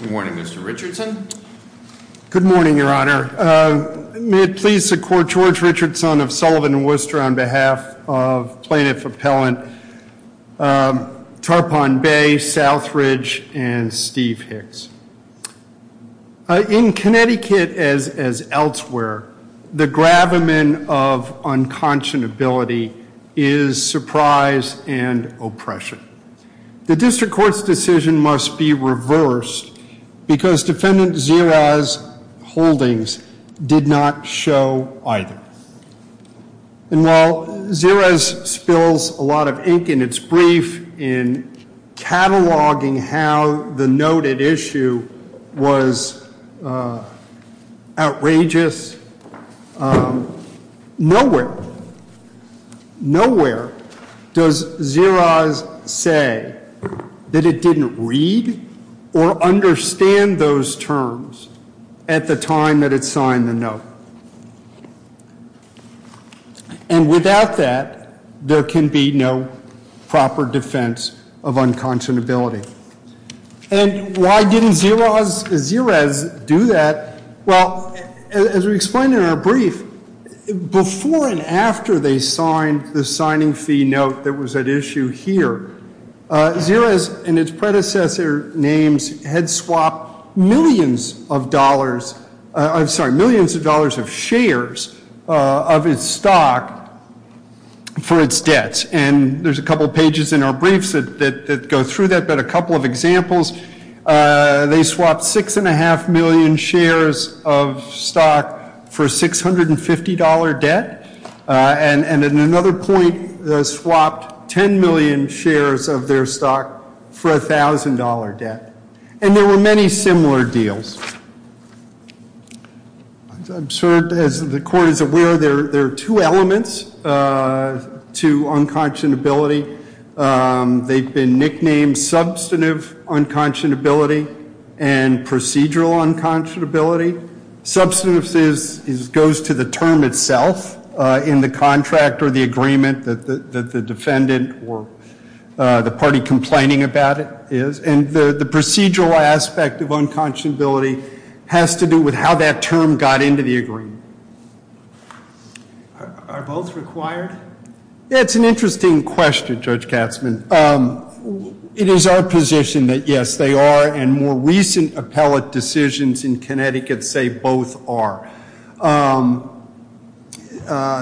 Good morning, Mr. Richardson. Good morning, Your Honor. May it please the Court, George Richardson of Sullivan and Worcester on behalf of plaintiff appellant Tarpon Bay, Southridge, and Steve Hicks. In Connecticut, as elsewhere, the gravamen of unconscionability is surprise and oppression. The district court's decision must be reversed because defendant Zerez Holdings did not show either. And while Zerez spills a lot of ink in its brief in cataloging how the noted issue was outrageous, nowhere does Zerez say that it didn't read or understand those terms at the time that it signed the note. And without that, there can be no proper defense of unconscionability. And why didn't Zerez do that? Well, as we explained in our brief, before and after they signed the signing fee note that was at issue here, Zerez and its predecessor names had swapped millions of dollars, I'm sorry, millions of dollars of shares of its stock for its debts. And there's a couple of pages in our briefs that go through that. But a couple of examples, they swapped $6.5 million shares of stock for a $650 debt. And at another point, they swapped 10 million shares of their stock for a $1,000 debt. And there were many similar deals. As the court is aware, there are two elements to unconscionability. They've been nicknamed substantive unconscionability and procedural unconscionability. Substantive goes to the term itself in the contract or the agreement that the defendant or the party complaining about it is. And the procedural aspect of unconscionability has to do with how that term got into the agreement. Are both required? It's an interesting question, Judge Katzmann. It is our position that, yes, they are. And more recent appellate decisions in Connecticut say both are,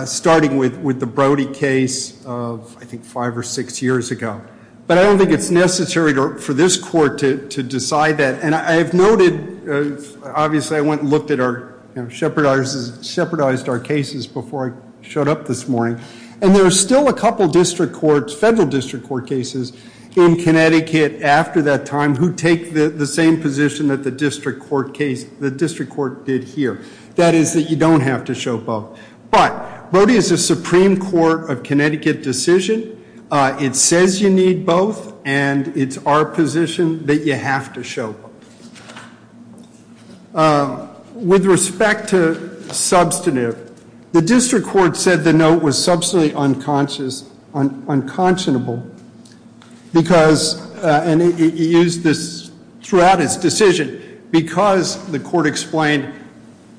starting with the Brody case of, I think, five or six years ago. But I don't think it's necessary for this court to decide that. And I've noted, obviously, I went and looked at our, shepherdized our cases before I showed up this morning. And there are still a couple district courts, federal district court cases, in Connecticut after that time who take the same position that the district court did here. That is that you don't have to show both. But Brody is a Supreme Court of Connecticut decision. It says you need both. And it's our position that you have to show both. With respect to substantive, the district court said the note was substantially unconscionable because, and he used this throughout his decision, because the court explained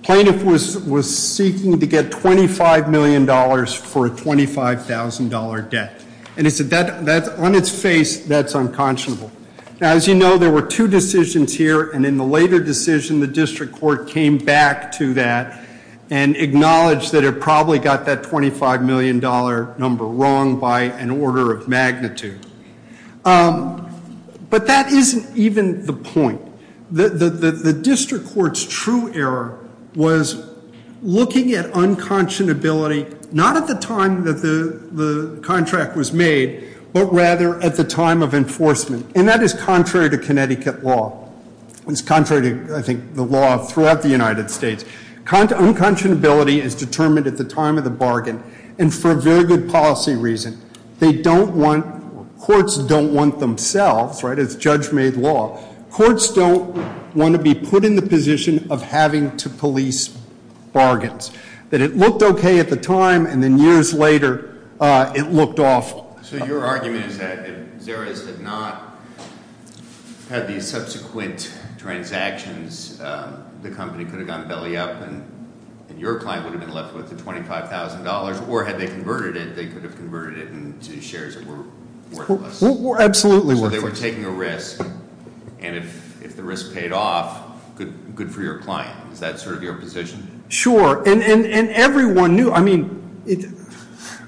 plaintiff was seeking to get $25 million for a $25,000 debt. And he said, on its face, that's unconscionable. Now, as you know, there were two decisions here. And in the later decision, the district court came back to that and acknowledged that it probably got that $25 million number wrong by an order of magnitude. But that isn't even the point. The district court's true error was looking at unconscionability not at the time that the contract was made, but rather at the time of enforcement. And that is contrary to Connecticut law. It's contrary to, I think, the law throughout the United States. Unconscionability is determined at the time of the bargain. And for a very good policy reason, courts don't want themselves, right? It's judge-made law. Courts don't want to be put in the position of having to police bargains. That it looked OK at the time, and then years later, it looked awful. So your argument is that if Xerez did not have these subsequent transactions, the company could have gone belly up. And your client would have been left with the $25,000. Or had they converted it, they could have converted it into shares that were worthless. Absolutely worthless. So they were taking a risk. And if the risk paid off, good for your client. Is that sort of your position? Sure. And everyone knew. I mean,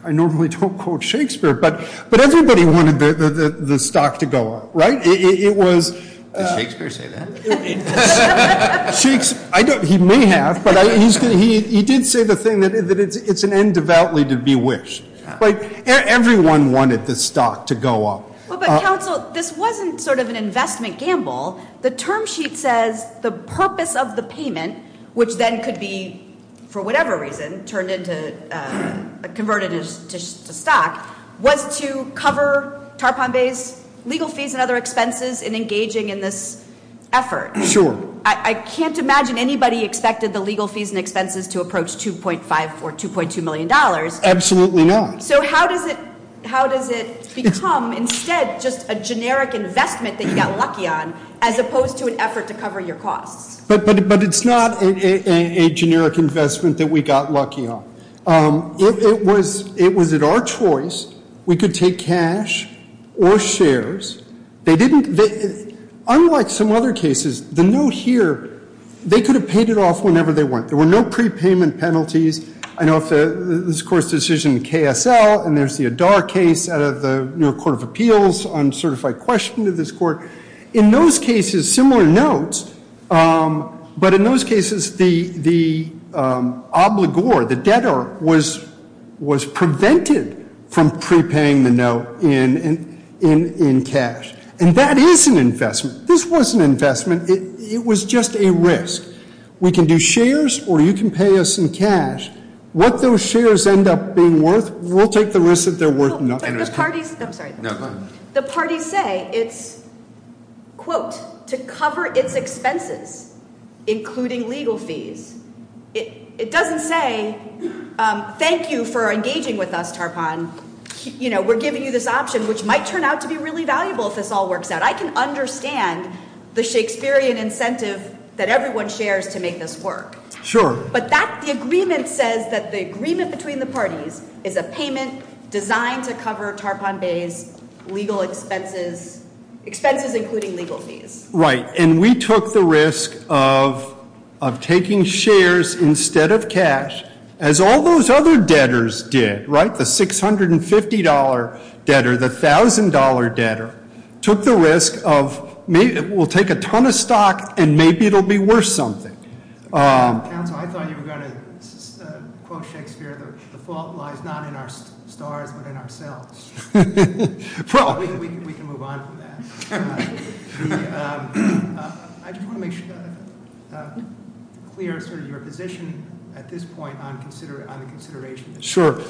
I normally don't quote Shakespeare. But everybody wanted the stock to go up, right? It was. Did Shakespeare say that? He may have, but he did say the thing that it's an end devoutly to be wished. But everyone wanted the stock to go up. Well, but counsel, this wasn't sort of an investment gamble. The term sheet says the purpose of the payment, which then could be, for whatever reason, converted to stock, was to cover tarpon bays, legal fees, and other expenses in engaging in this effort. Sure. I can't imagine anybody expected the legal fees and expenses to approach $2.5 or $2.2 million. Absolutely not. So how does it become, instead, just a generic investment that you got lucky on, as opposed to an effort to cover your costs? But it's not a generic investment that we got lucky on. It was at our choice. We could take cash or shares. Unlike some other cases, the note here, they could have paid it off whenever they want. There were no prepayment penalties. I know this court's decision in KSL, and there's the Adar case out of the New York Court of Appeals on certified question to this court. In those cases, similar notes, but in those cases, the obligor, the debtor, was prevented from prepaying the note in cash. And that is an investment. This was an investment. It was just a risk. We can do shares, or you can pay us in cash. What those shares end up being worth, we'll take the risk that they're worth nothing. But the parties, I'm sorry. The parties say it's, quote, to cover its expenses, including legal fees. It doesn't say, thank you for engaging with us, Tarpon. We're giving you this option, which might turn out to be really valuable if this all works out. I can understand the Shakespearean incentive that everyone shares to make this work. Sure. But the agreement says that the agreement between the parties is a payment designed to cover Tarpon Bay's legal expenses, expenses including legal fees. Right. And we took the risk of taking shares instead of cash, as all those other debtors did, right? The $650 debtor, the $1,000 debtor, took the risk of, we'll take a ton of stock, and maybe it'll be worth something. Council, I thought you were going to quote Shakespeare. The fault lies not in our stars, but in ourselves. Well, we can move on from that. I just want to make clear your position at this point on the consideration. Sure.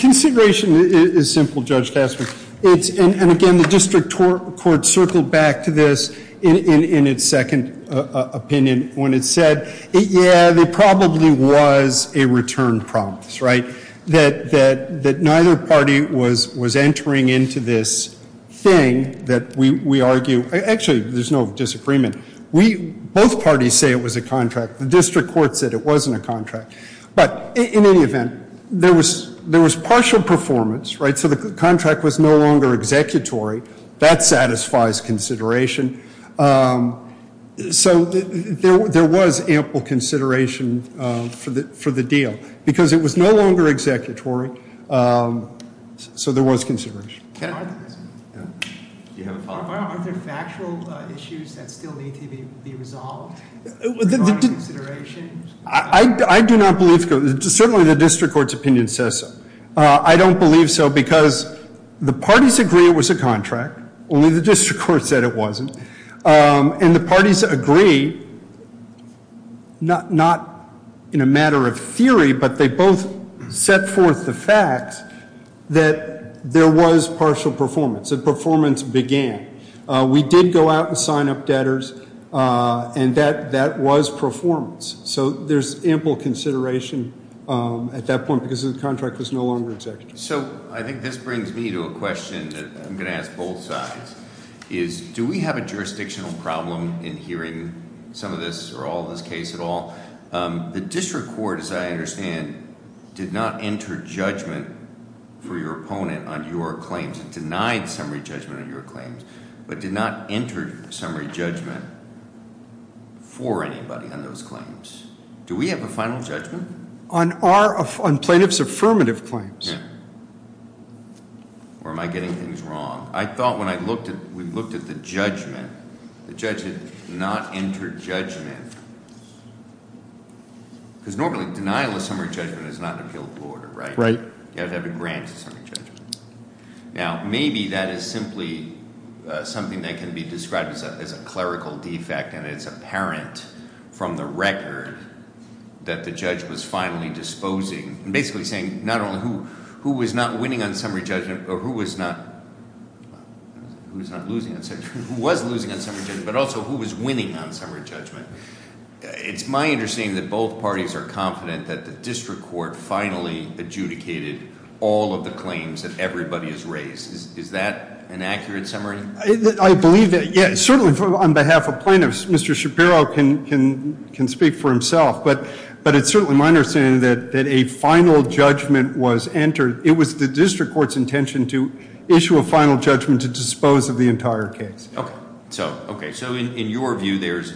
Consideration is simple, Judge Tasker. And again, the district court circled back to this in its second opinion when it said, yeah, there probably was a return promise, right? That neither party was entering into this thing that we argue. Actually, there's no disagreement. Both parties say it was a contract. The district court said it wasn't a contract. But in any event, there was partial performance, right? So the contract was no longer executory. That satisfies consideration. So there was ample consideration for the deal, because it was no longer executory. Can I ask a question? Do you have a follow-up? Are there factual issues that still need to be resolved? Is there consideration? I do not believe so. Certainly, the district court's opinion says so. I don't believe so, because the parties agree it was a contract. Only the district court said it wasn't. And the parties agree, not in a matter of theory, but they both set forth the fact that there was partial performance. So performance began. We did go out and sign up debtors, and that was performance. So there's ample consideration at that point, because the contract was no longer executory. So I think this brings me to a question that I'm going to ask both sides, is do we have a jurisdictional problem in hearing some of this or all of this case at all? The district court, as I understand, did not enter judgment for your opponent on your claims. Denied summary judgment on your claims, but did not enter summary judgment for anybody on those claims. Do we have a final judgment? On plaintiff's affirmative claims. Yeah. Or am I getting things wrong? I thought when we looked at the judgment, the judge did not enter judgment. Because normally, denial of summary judgment is not an appealable order, right? Right. You have to have a grant of summary judgment. Now, maybe that is simply something that can be described as a clerical defect, and it's apparent from the record that the judge was finally disposing. Basically saying, not only who was not winning on summary judgment, or who was not losing on summary judgment, but also who was winning on summary judgment. It's my understanding that both parties are confident that the district court finally adjudicated all of the claims that everybody has raised. Is that an accurate summary? I believe that, yeah, certainly on behalf of plaintiffs, Mr. Shapiro can speak for himself. But it's certainly my understanding that a final judgment was entered. It was the district court's intention to issue a final judgment to dispose of the entire case. Okay, so in your view, there's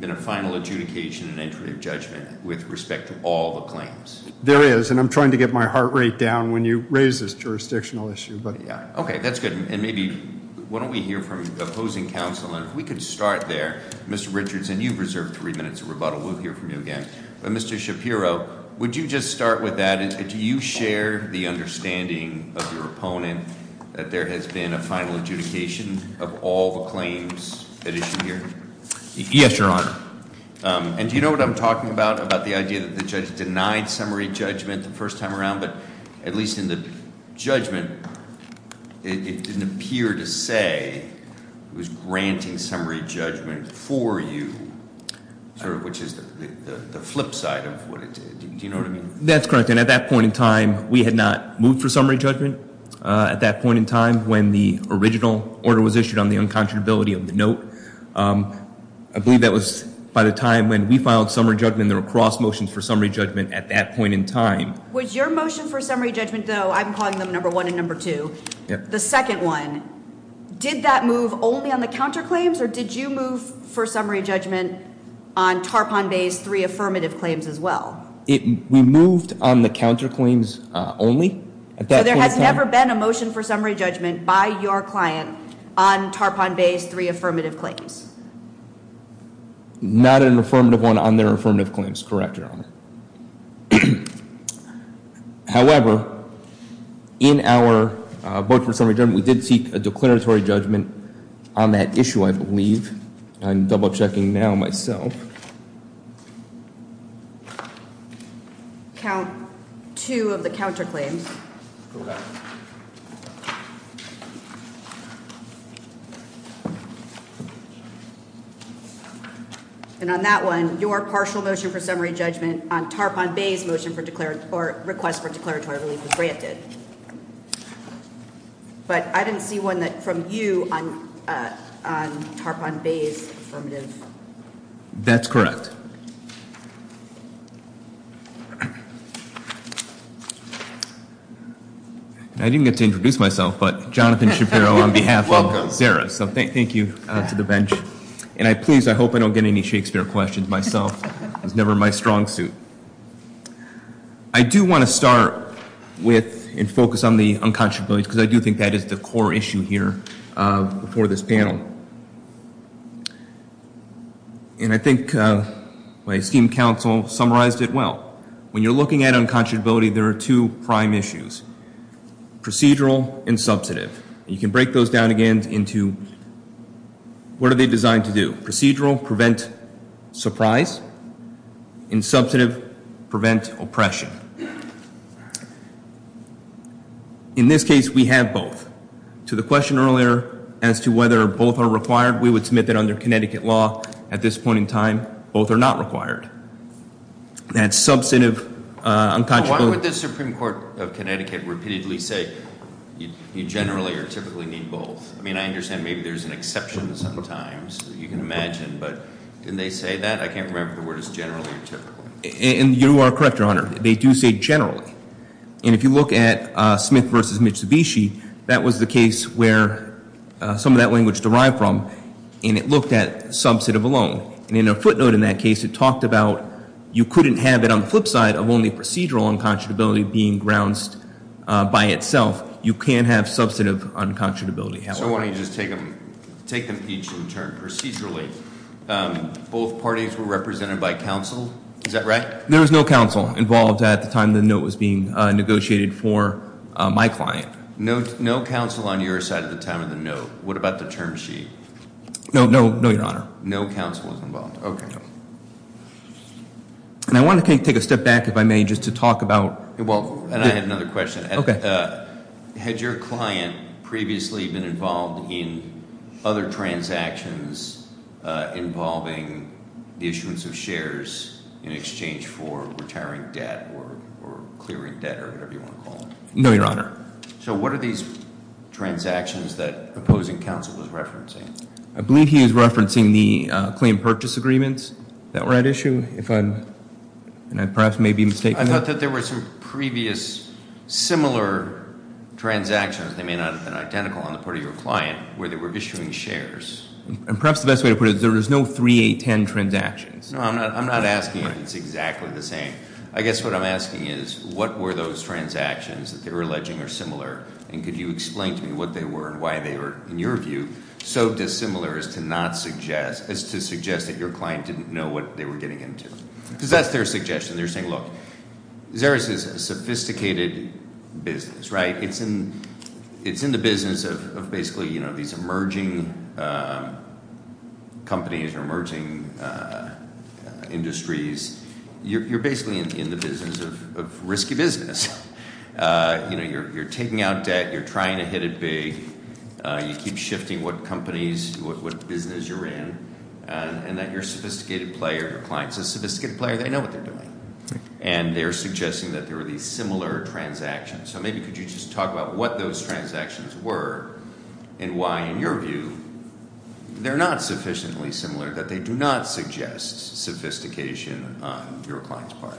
been a final adjudication and there is, and I'm trying to get my heart rate down when you raise this jurisdictional issue, but yeah. Okay, that's good. And maybe, why don't we hear from opposing counsel? And if we could start there, Mr. Richards, and you've reserved three minutes of rebuttal. We'll hear from you again. But Mr. Shapiro, would you just start with that, and do you share the understanding of your opponent that there has been a final adjudication of all the claims that issue here? Yes, Your Honor. And do you know what I'm talking about, about the idea that the judge denied summary judgment the first time around? But at least in the judgment, it didn't appear to say it was granting summary judgment for you, which is the flip side of what it did. Do you know what I mean? That's correct, and at that point in time, we had not moved for summary judgment. At that point in time, when the original order was issued on the unconscionability of the note, I believe that was by the time when we filed summary judgment, there were cross motions for summary judgment at that point in time. Was your motion for summary judgment, though, I'm calling them number one and number two, the second one. Did that move only on the counterclaims, or did you move for summary judgment on Tarpon Bay's three affirmative claims as well? We moved on the counterclaims only at that point in time. So there has never been a motion for summary judgment by your client on Tarpon Bay's three affirmative claims? Not an affirmative one on their affirmative claims, correct, Your Honor. However, in our vote for summary judgment, we did seek a declaratory judgment on that issue, I believe. I'm double checking now myself. Count two of the counterclaims. Correct. And on that one, your partial motion for summary judgment on Tarpon Bay's motion for request for declaratory relief was granted. But I didn't see one from you on Tarpon Bay's affirmative. That's correct. I didn't get to introduce myself, but Jonathan Shapiro on behalf of Zara, so thank you to the bench. And I please, I hope I don't get any Shakespeare questions myself. It's never my strong suit. I do want to start with and focus on the unconscionability, because I do think that is the core issue here for this panel. And I think my esteemed counsel summarized it well. When you're looking at unconscionability, there are two prime issues, procedural and substantive. You can break those down again into, what are they designed to do? Procedural, prevent surprise, and substantive, prevent oppression. In this case, we have both. To the question earlier as to whether both are required, we would submit that under Connecticut law, at this point in time, both are not required. That substantive unconscionability- Why would the Supreme Court of Connecticut repeatedly say you generally or typically need both? I mean, I understand maybe there's an exception sometimes that you can imagine, but did they say that? I can't remember if the word is generally or typically. And you are correct, Your Honor. They do say generally. And if you look at Smith versus Mitsubishi, that was the case where some of that language derived from. And it looked at substantive alone. And in a footnote in that case, it talked about you couldn't have it on the flip side of only procedural unconscionability being grounced by itself. You can have substantive unconscionability. So why don't you just take them each in turn, procedurally. Both parties were represented by counsel, is that right? There was no counsel involved at the time the note was being negotiated for my client. No counsel on your side at the time of the note. What about the term sheet? No, no, no, Your Honor. No counsel was involved. Okay. And I want to take a step back, if I may, just to talk about- Well, and I have another question. Okay. Had your client previously been involved in other transactions involving the issuance of shares in exchange for retiring debt or clearing debt or whatever you want to call it? No, Your Honor. So what are these transactions that opposing counsel was referencing? I believe he was referencing the claim purchase agreements that were at issue, and I perhaps may be mistaken. I thought that there were some previous similar transactions, they may not have been identical on the part of your client, where they were issuing shares. And perhaps the best way to put it is there is no three, eight, ten transactions. No, I'm not asking if it's exactly the same. I guess what I'm asking is, what were those transactions that they were alleging are similar? And could you explain to me what they were and why they were, in your view, so dissimilar as to suggest that your client didn't know what they were getting into? because that's their suggestion. They're saying, look, Xerxes is a sophisticated business, right? It's in the business of basically these emerging companies or emerging industries. You're basically in the business of risky business. You're taking out debt, you're trying to hit it big. You keep shifting what companies, what business you're in. And that your sophisticated player, the client's a sophisticated player, they know what they're doing. And they're suggesting that there are these similar transactions. So maybe could you just talk about what those transactions were and why, in your view, they're not sufficiently similar, that they do not suggest sophistication on your client's part.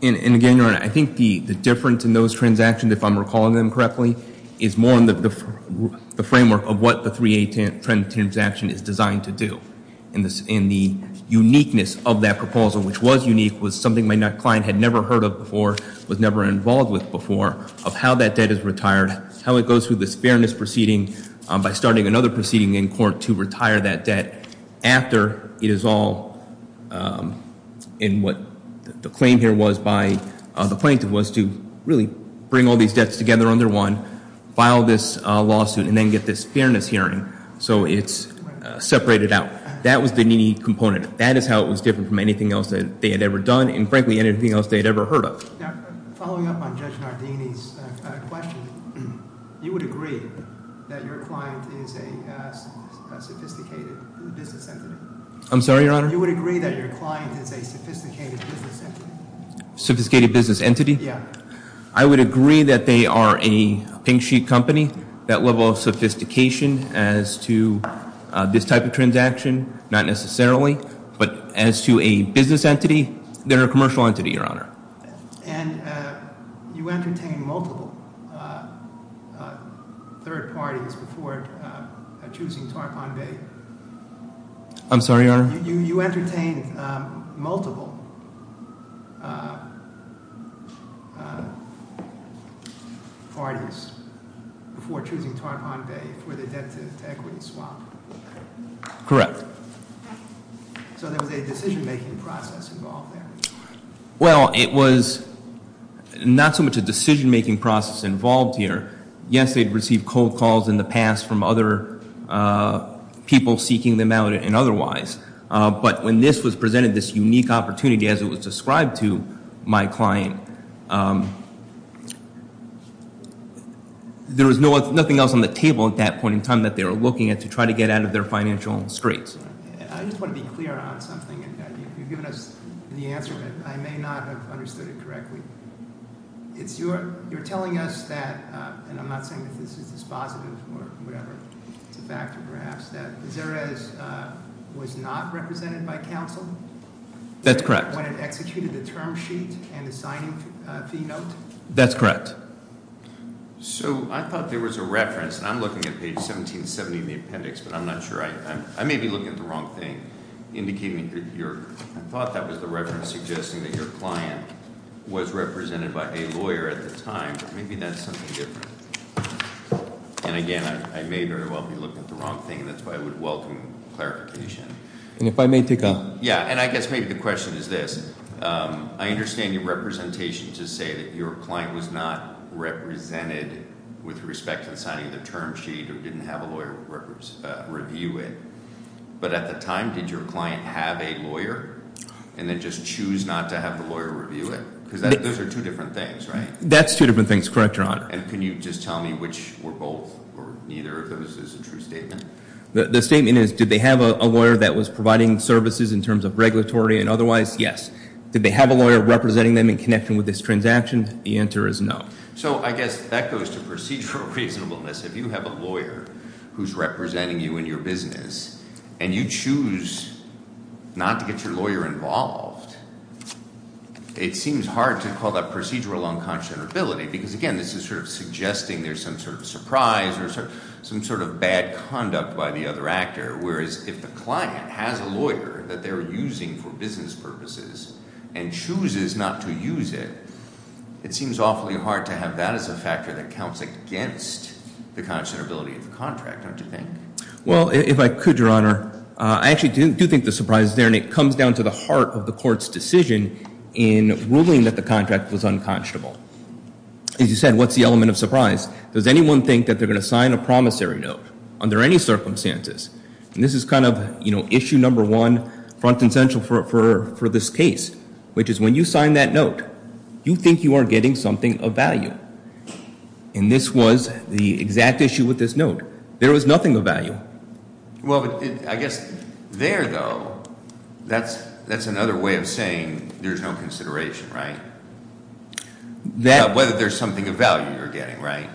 And again, your honor, I think the difference in those transactions, if I'm recalling them correctly, is more in the framework of what the three, eight, ten transaction is designed to do. And the uniqueness of that proposal, which was unique, was something my client had never heard of before, was never involved with before, of how that debt is retired, how it goes through this fairness proceeding by starting another proceeding in court to retire that debt after it is all, in what the claim here was by the plaintiff, was to really bring all these debts together under one, file this lawsuit, and then get this fairness hearing, so it's separated out. That was the needy component. That is how it was different from anything else that they had ever done, and frankly, anything else they had ever heard of. Now, following up on Judge Nardini's question, you would agree that your client is a sophisticated business entity? I'm sorry, your honor? You would agree that your client is a sophisticated business entity? Sophisticated business entity? Yeah. I would agree that they are a pink sheet company. That level of sophistication as to this type of transaction, not necessarily, but as to a business entity, they're a commercial entity, your honor. And you entertain multiple third parties before choosing Tarpon Bay. I'm sorry, your honor? You entertain multiple parties. Before choosing Tarpon Bay for the debt to equity swap. Correct. So there was a decision making process involved there? Well, it was not so much a decision making process involved here. Yes, they'd received cold calls in the past from other people seeking them out and otherwise. But when this was presented, this unique opportunity as it was described to my client, there was nothing else on the table at that point in time that they were looking at to try to get out of their financial straits. I just want to be clear on something, and you've given us the answer, but I may not have understood it correctly. It's your, you're telling us that, and I'm not saying that this is dispositive or whatever, it's a factor perhaps, that Xerez was not represented by counsel? That's correct. When it executed the term sheet and the signing fee note? That's correct. So I thought there was a reference, and I'm looking at page 1770 in the appendix, but I'm not sure. I may be looking at the wrong thing. Indicating that you're, I thought that was the reference suggesting that your client was represented by a lawyer at the time, but maybe that's something different. And again, I may very well be looking at the wrong thing, and that's why I would welcome clarification. And if I may take a- Yeah, and I guess maybe the question is this. I understand your representation to say that your client was not represented with respect to signing the term sheet, or didn't have a lawyer review it. But at the time, did your client have a lawyer, and then just choose not to have the lawyer review it? because those are two different things, right? That's two different things, correct, Your Honor. And can you just tell me which were both, or neither of those is a true statement? The statement is, did they have a lawyer that was providing services in terms of regulatory and otherwise? Yes. Did they have a lawyer representing them in connection with this transaction? The answer is no. So I guess that goes to procedural reasonableness. If you have a lawyer who's representing you in your business, and you choose not to get your lawyer involved, it seems hard to call that procedural unconscionability. Because again, this is sort of suggesting there's some sort of surprise or some sort of bad conduct by the other actor. Whereas if the client has a lawyer that they're using for business purposes and chooses not to use it, it seems awfully hard to have that as a factor that counts against the conscionability of the contract, don't you think? Well, if I could, Your Honor, I actually do think the surprise is there, and it comes down to the heart of the court's decision in ruling that the contract was unconscionable. As you said, what's the element of surprise? Does anyone think that they're going to sign a promissory note under any circumstances? And this is kind of issue number one, front and central for this case, which is when you sign that note, you think you are getting something of value. And this was the exact issue with this note. There was nothing of value. Well, I guess there though, that's another way of saying there's no consideration, right? Whether there's something of value you're getting, right?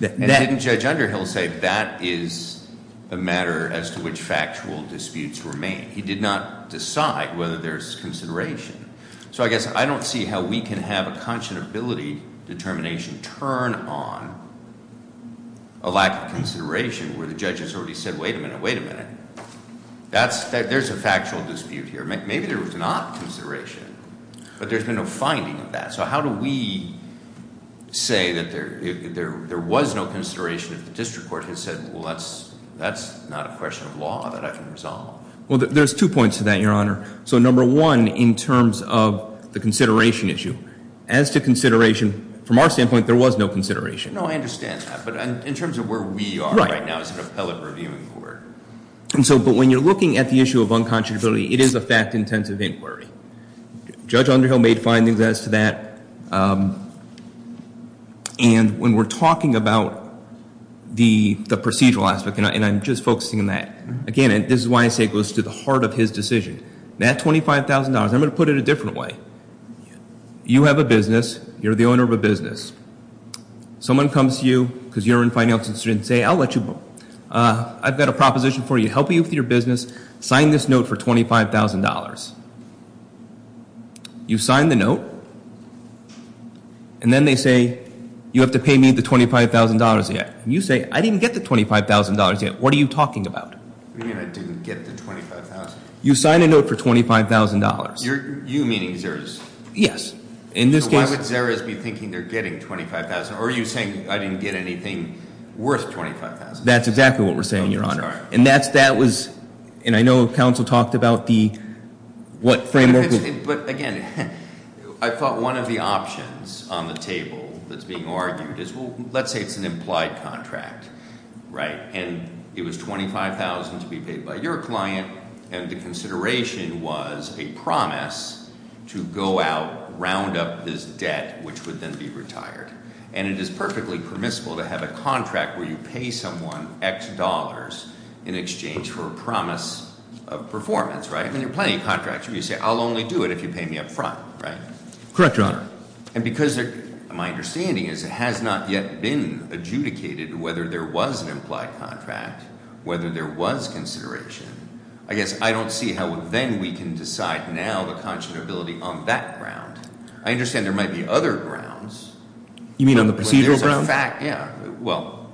And didn't Judge Underhill say that is a matter as to which factual disputes remain? He did not decide whether there's consideration. So I guess I don't see how we can have a conscionability determination turn on a lack of consideration where the judge has already said, wait a minute, wait a minute. There's a factual dispute here. Maybe there was not consideration, but there's been no finding of that. So how do we say that there was no consideration if the district court has said, well, that's not a question of law that I can resolve. Well, there's two points to that, your honor. So number one, in terms of the consideration issue. As to consideration, from our standpoint, there was no consideration. No, I understand that, but in terms of where we are right now as an appellate reviewing court. And so, but when you're looking at the issue of unconscionability, it is a fact-intensive inquiry. Judge Underhill made findings as to that. And when we're talking about the procedural aspect, and I'm just focusing on that. Again, this is why I say it goes to the heart of his decision. That $25,000, I'm going to put it a different way. You have a business. You're the owner of a business. Someone comes to you, because you're in finance, and say, I'll let you. I've got a proposition for you, help you with your business, sign this note for $25,000. You sign the note, and then they say, you have to pay me the $25,000 yet. You say, I didn't get the $25,000 yet, what are you talking about? You mean I didn't get the $25,000? You sign a note for $25,000. You're, you meaning Zara's? Yes. In this case- So why would Zara's be thinking they're getting $25,000, or are you saying I didn't get anything worth $25,000? That's exactly what we're saying, your honor. And that was, and I know council talked about the, what framework- But again, I thought one of the options on the table that's being argued is, well, let's say it's an implied contract, right? And it was $25,000 to be paid by your client, and the consideration was a promise to go out, round up this debt, which would then be retired. And it is perfectly permissible to have a contract where you pay someone X dollars in exchange for a promise of performance, right? I mean, there are plenty of contracts where you say, I'll only do it if you pay me up front, right? Correct, your honor. And because my understanding is it has not yet been adjudicated whether there was an implied contract, whether there was consideration. I guess I don't see how then we can decide now the conscionability on that ground. I understand there might be other grounds. You mean on the procedural grounds? Yeah, well,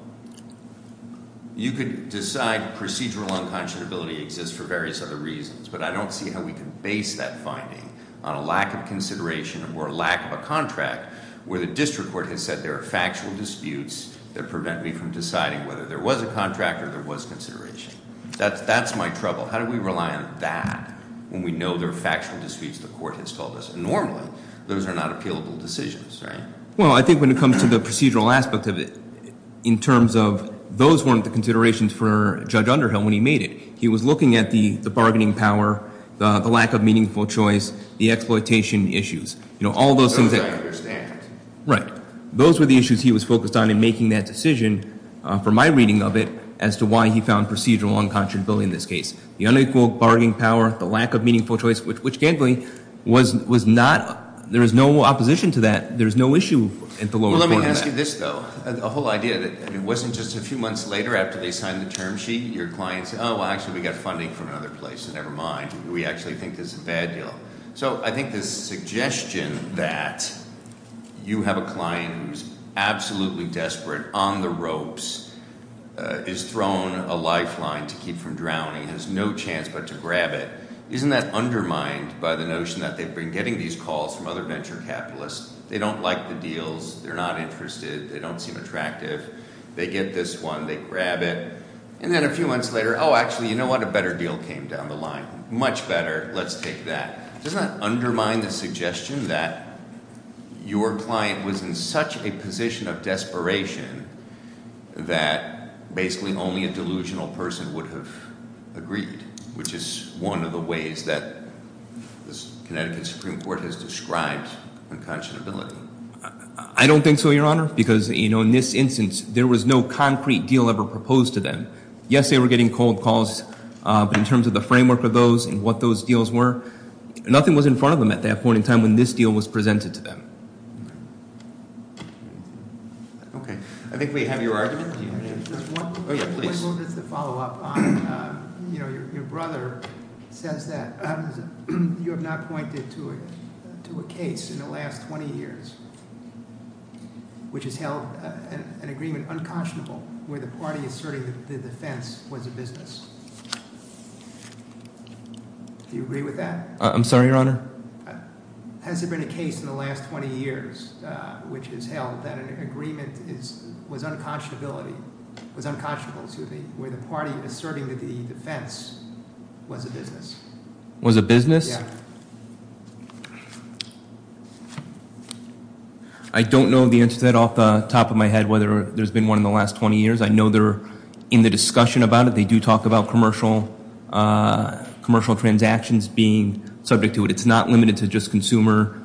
you could decide procedural unconscionability exists for various other reasons. But I don't see how we can base that finding on a lack of consideration or a lack of a contract where the district court has said there are factual disputes that prevent me from deciding whether there was a contract or there was consideration. That's my trouble. How do we rely on that when we know there are factual disputes the court has called us? Normally, those are not appealable decisions, right? Well, I think when it comes to the procedural aspect of it, in terms of those weren't the considerations for Judge Underhill when he made it. He was looking at the bargaining power, the lack of meaningful choice, the exploitation issues. All those things- Those I understand. Right. Those were the issues he was focused on in making that decision, from my reading of it, as to why he found procedural unconscionability in this case. The unequal bargaining power, the lack of meaningful choice, which gambling was not, there is no opposition to that. There's no issue at the lowest point of that. Well, let me ask you this, though. The whole idea that it wasn't just a few months later after they signed the term sheet, your client said, well, actually, we got funding from another place, so never mind. We actually think this is a bad deal. So I think this suggestion that you have a client who's absolutely desperate on the ropes, is thrown a lifeline to keep from drowning, has no chance but to grab it, isn't that undermined by the notion that they've been getting these calls from other venture capitalists, they don't like the deals, they're not interested, they don't seem attractive. They get this one, they grab it, and then a few months later, oh, actually, you know what, a better deal came down the line, much better, let's take that. Does that undermine the suggestion that your client was in such a position of desperation that basically only a delusional person would have agreed, which is one of the ways that the Connecticut Supreme Court has described unconscionability. I don't think so, Your Honor, because in this instance, there was no concrete deal ever proposed to them. Yes, they were getting cold calls, but in terms of the framework of those and what those deals were, nothing was in front of them at that point in time when this deal was presented to them. Okay, I think we have your argument. Do you have any? Yeah, please. Just to follow up on, your brother says that you have not pointed to a case in the last 20 years, which has held an agreement unconscionable, where the party is asserting that the defense was a business. Do you agree with that? I'm sorry, Your Honor? Has there been a case in the last 20 years which has held that an agreement was unconscionable, where the party is asserting that the defense was a business? Was a business? Yeah. I don't know the answer to that off the top of my head, whether there's been one in the last 20 years. I know they're in the discussion about it. They do talk about commercial transactions being subject to it. It's not limited to just consumer,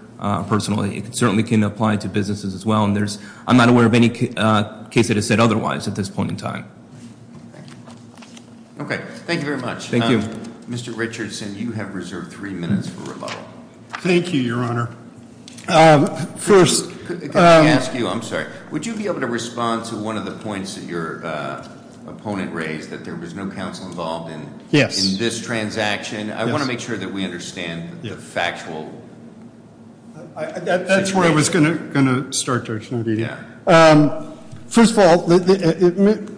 personally. It certainly can apply to businesses as well, and I'm not aware of any case that has said otherwise at this point in time. Okay, thank you very much. Thank you. Mr. Richardson, you have reserved three minutes for rebuttal. Thank you, Your Honor. First- Can I ask you, I'm sorry, would you be able to respond to one of the points that your opponent raised, that there was no counsel involved in this transaction? I want to make sure that we understand the factual- That's where I was going to start, Judge Navidia. First of all, the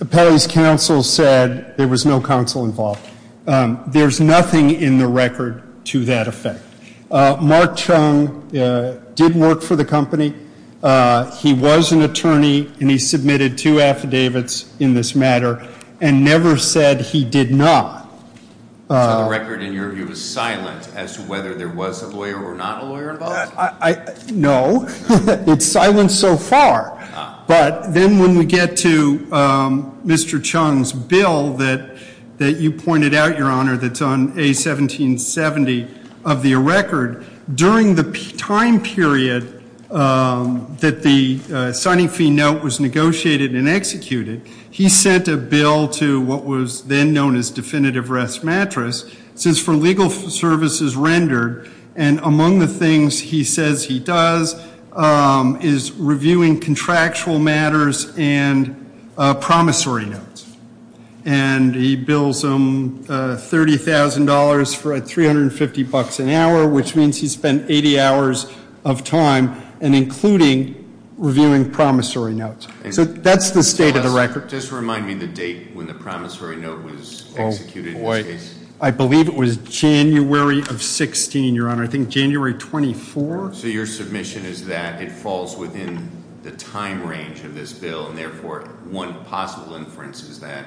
appellee's counsel said there was no counsel involved. There's nothing in the record to that effect. Mark Chung did work for the company. He was an attorney, and he submitted two affidavits in this matter, and never said he did not. So the record, in your view, is silent as to whether there was a lawyer or not a lawyer involved? No, it's silent so far. But then when we get to Mr. Chung's bill that you pointed out, Your Honor, that's on A1770 of the record, during the time period that the signing fee note was negotiated and executed, he sent a bill to what was then known as Definitive Rest Mattress, since for legal services rendered, and among the things he says he does is reviewing contractual matters and promissory notes. And he bills them $30,000 for $350 an hour, which means he spent 80 hours of time, and including reviewing promissory notes. So that's the state of the record. Just remind me the date when the promissory note was executed in this case. I believe it was January of 16, Your Honor, I think January 24. So your submission is that it falls within the time range of this bill, and therefore one possible inference is that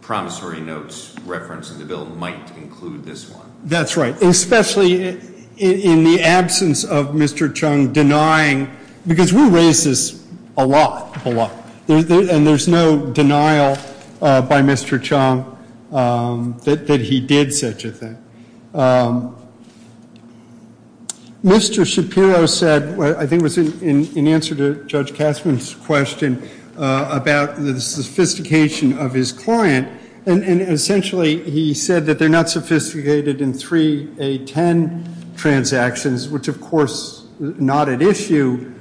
promissory notes referenced in the bill might include this one. That's right, especially in the absence of Mr. Chung denying, because we raise this a lot, a lot, and there's no denial by Mr. Chung that he did such a thing. Mr. Shapiro said, I think it was in answer to Judge Kassman's question about the sophistication of his client, and essentially he said that they're not sophisticated in 3A10 transactions, which of course, not at issue.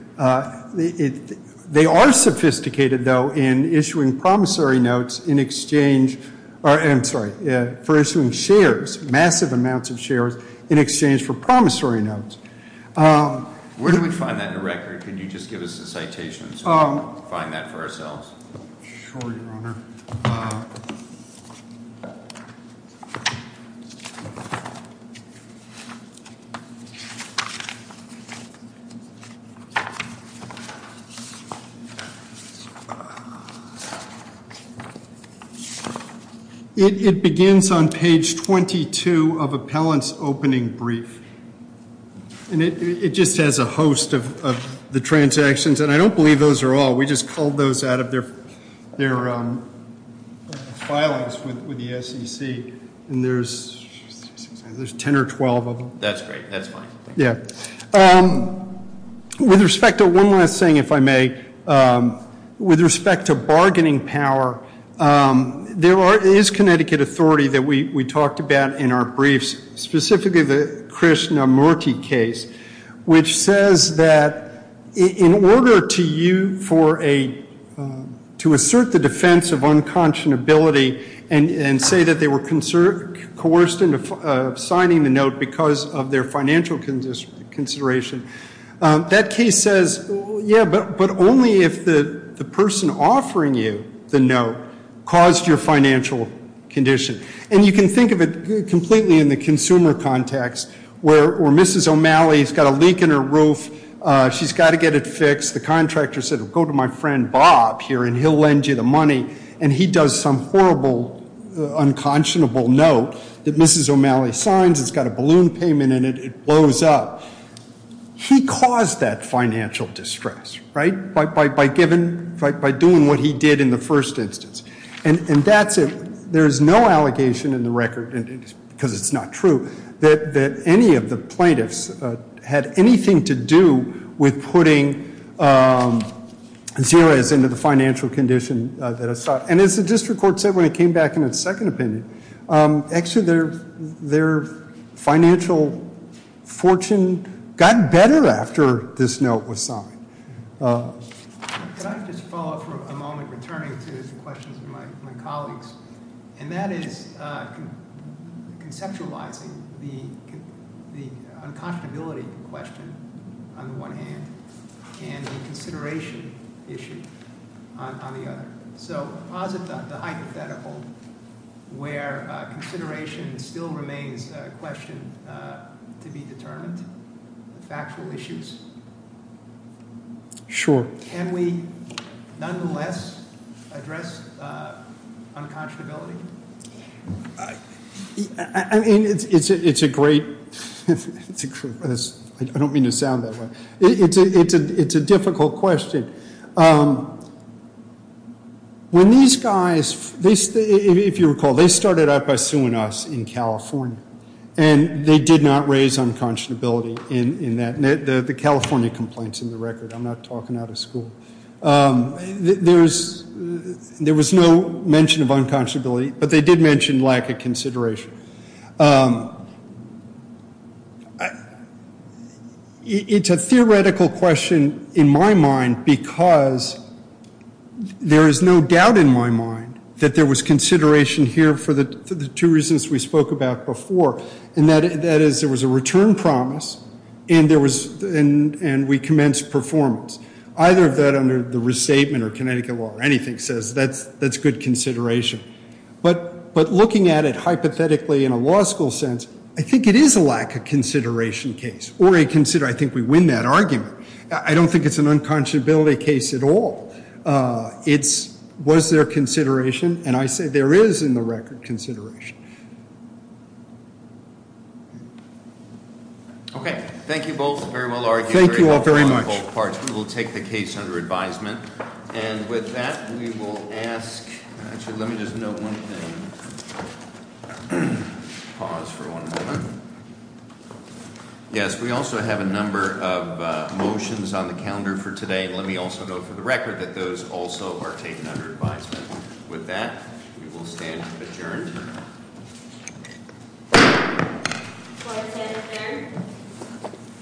They are sophisticated, though, in issuing promissory notes in exchange, or I'm sorry, for issuing shares, massive amounts of shares, in exchange for promissory notes. Where do we find that in the record? Could you just give us the citation so we can find that for ourselves? Sure, Your Honor. It begins on page 22 of appellant's opening brief. And it just has a host of the transactions, and I don't believe those are all. We just culled those out of their filings with the SEC, and there's 10 or 12 of them. That's great, that's fine. Yeah. With respect to one last thing, if I may, with respect to bargaining power, there is Connecticut authority that we talked about in our briefs, specifically the Krishnamurti case, which says that in order to assert the defense of unconscionability and say that they were coerced into signing the note because of their financial consideration, that case says, yeah, but only if the person offering you the note caused your financial condition. And you can think of it completely in the consumer context, where Mrs. O'Malley's got a leak in her roof, she's got to get it fixed. The contractor said, go to my friend Bob here, and he'll lend you the money. And he does some horrible, unconscionable note that Mrs. O'Malley signs, it's got a balloon payment in it, it blows up. He caused that financial distress, right, by doing what he did in the first instance. And that's it. There's no allegation in the record, because it's not true, that any of the plaintiffs had anything to do with putting Xerez into the financial condition that I saw. And as the district court said when it came back in its second opinion, actually their financial fortune got better after this note was signed. Could I just follow up for a moment, returning to the questions of my colleagues? And that is conceptualizing the unconscionability question on the one hand, and the consideration issue on the other. So, posit the hypothetical where consideration still remains a question to be determined, factual issues, can we nonetheless address unconscionability? I mean, it's a great, I don't mean to sound that way, it's a difficult question. When these guys, if you recall, they started out by suing us in California, and they did not raise unconscionability in that. The California complaint's in the record, I'm not talking out of school. There was no mention of unconscionability, but they did mention lack of consideration. It's a theoretical question in my mind, because there is no doubt in my mind that there was consideration here for the two reasons we spoke about before, and that is there was a return promise, and we commenced performance. Either of that under the restatement or Connecticut law or anything says that's good consideration. But looking at it hypothetically in a law school sense, I think it is a lack of consideration case, or a consider, I think we win that argument. I don't think it's an unconscionability case at all. It's, was there consideration? And I say there is in the record consideration. Okay, thank you both, very well argued. Thank you all very much. We will take the case under advisement. And with that, we will ask, actually let me just note one thing, pause for one moment. Yes, we also have a number of motions on the calendar for today, and let me also note for the record that those also are taken under advisement. With that, we will stand adjourned. What was that, a fair?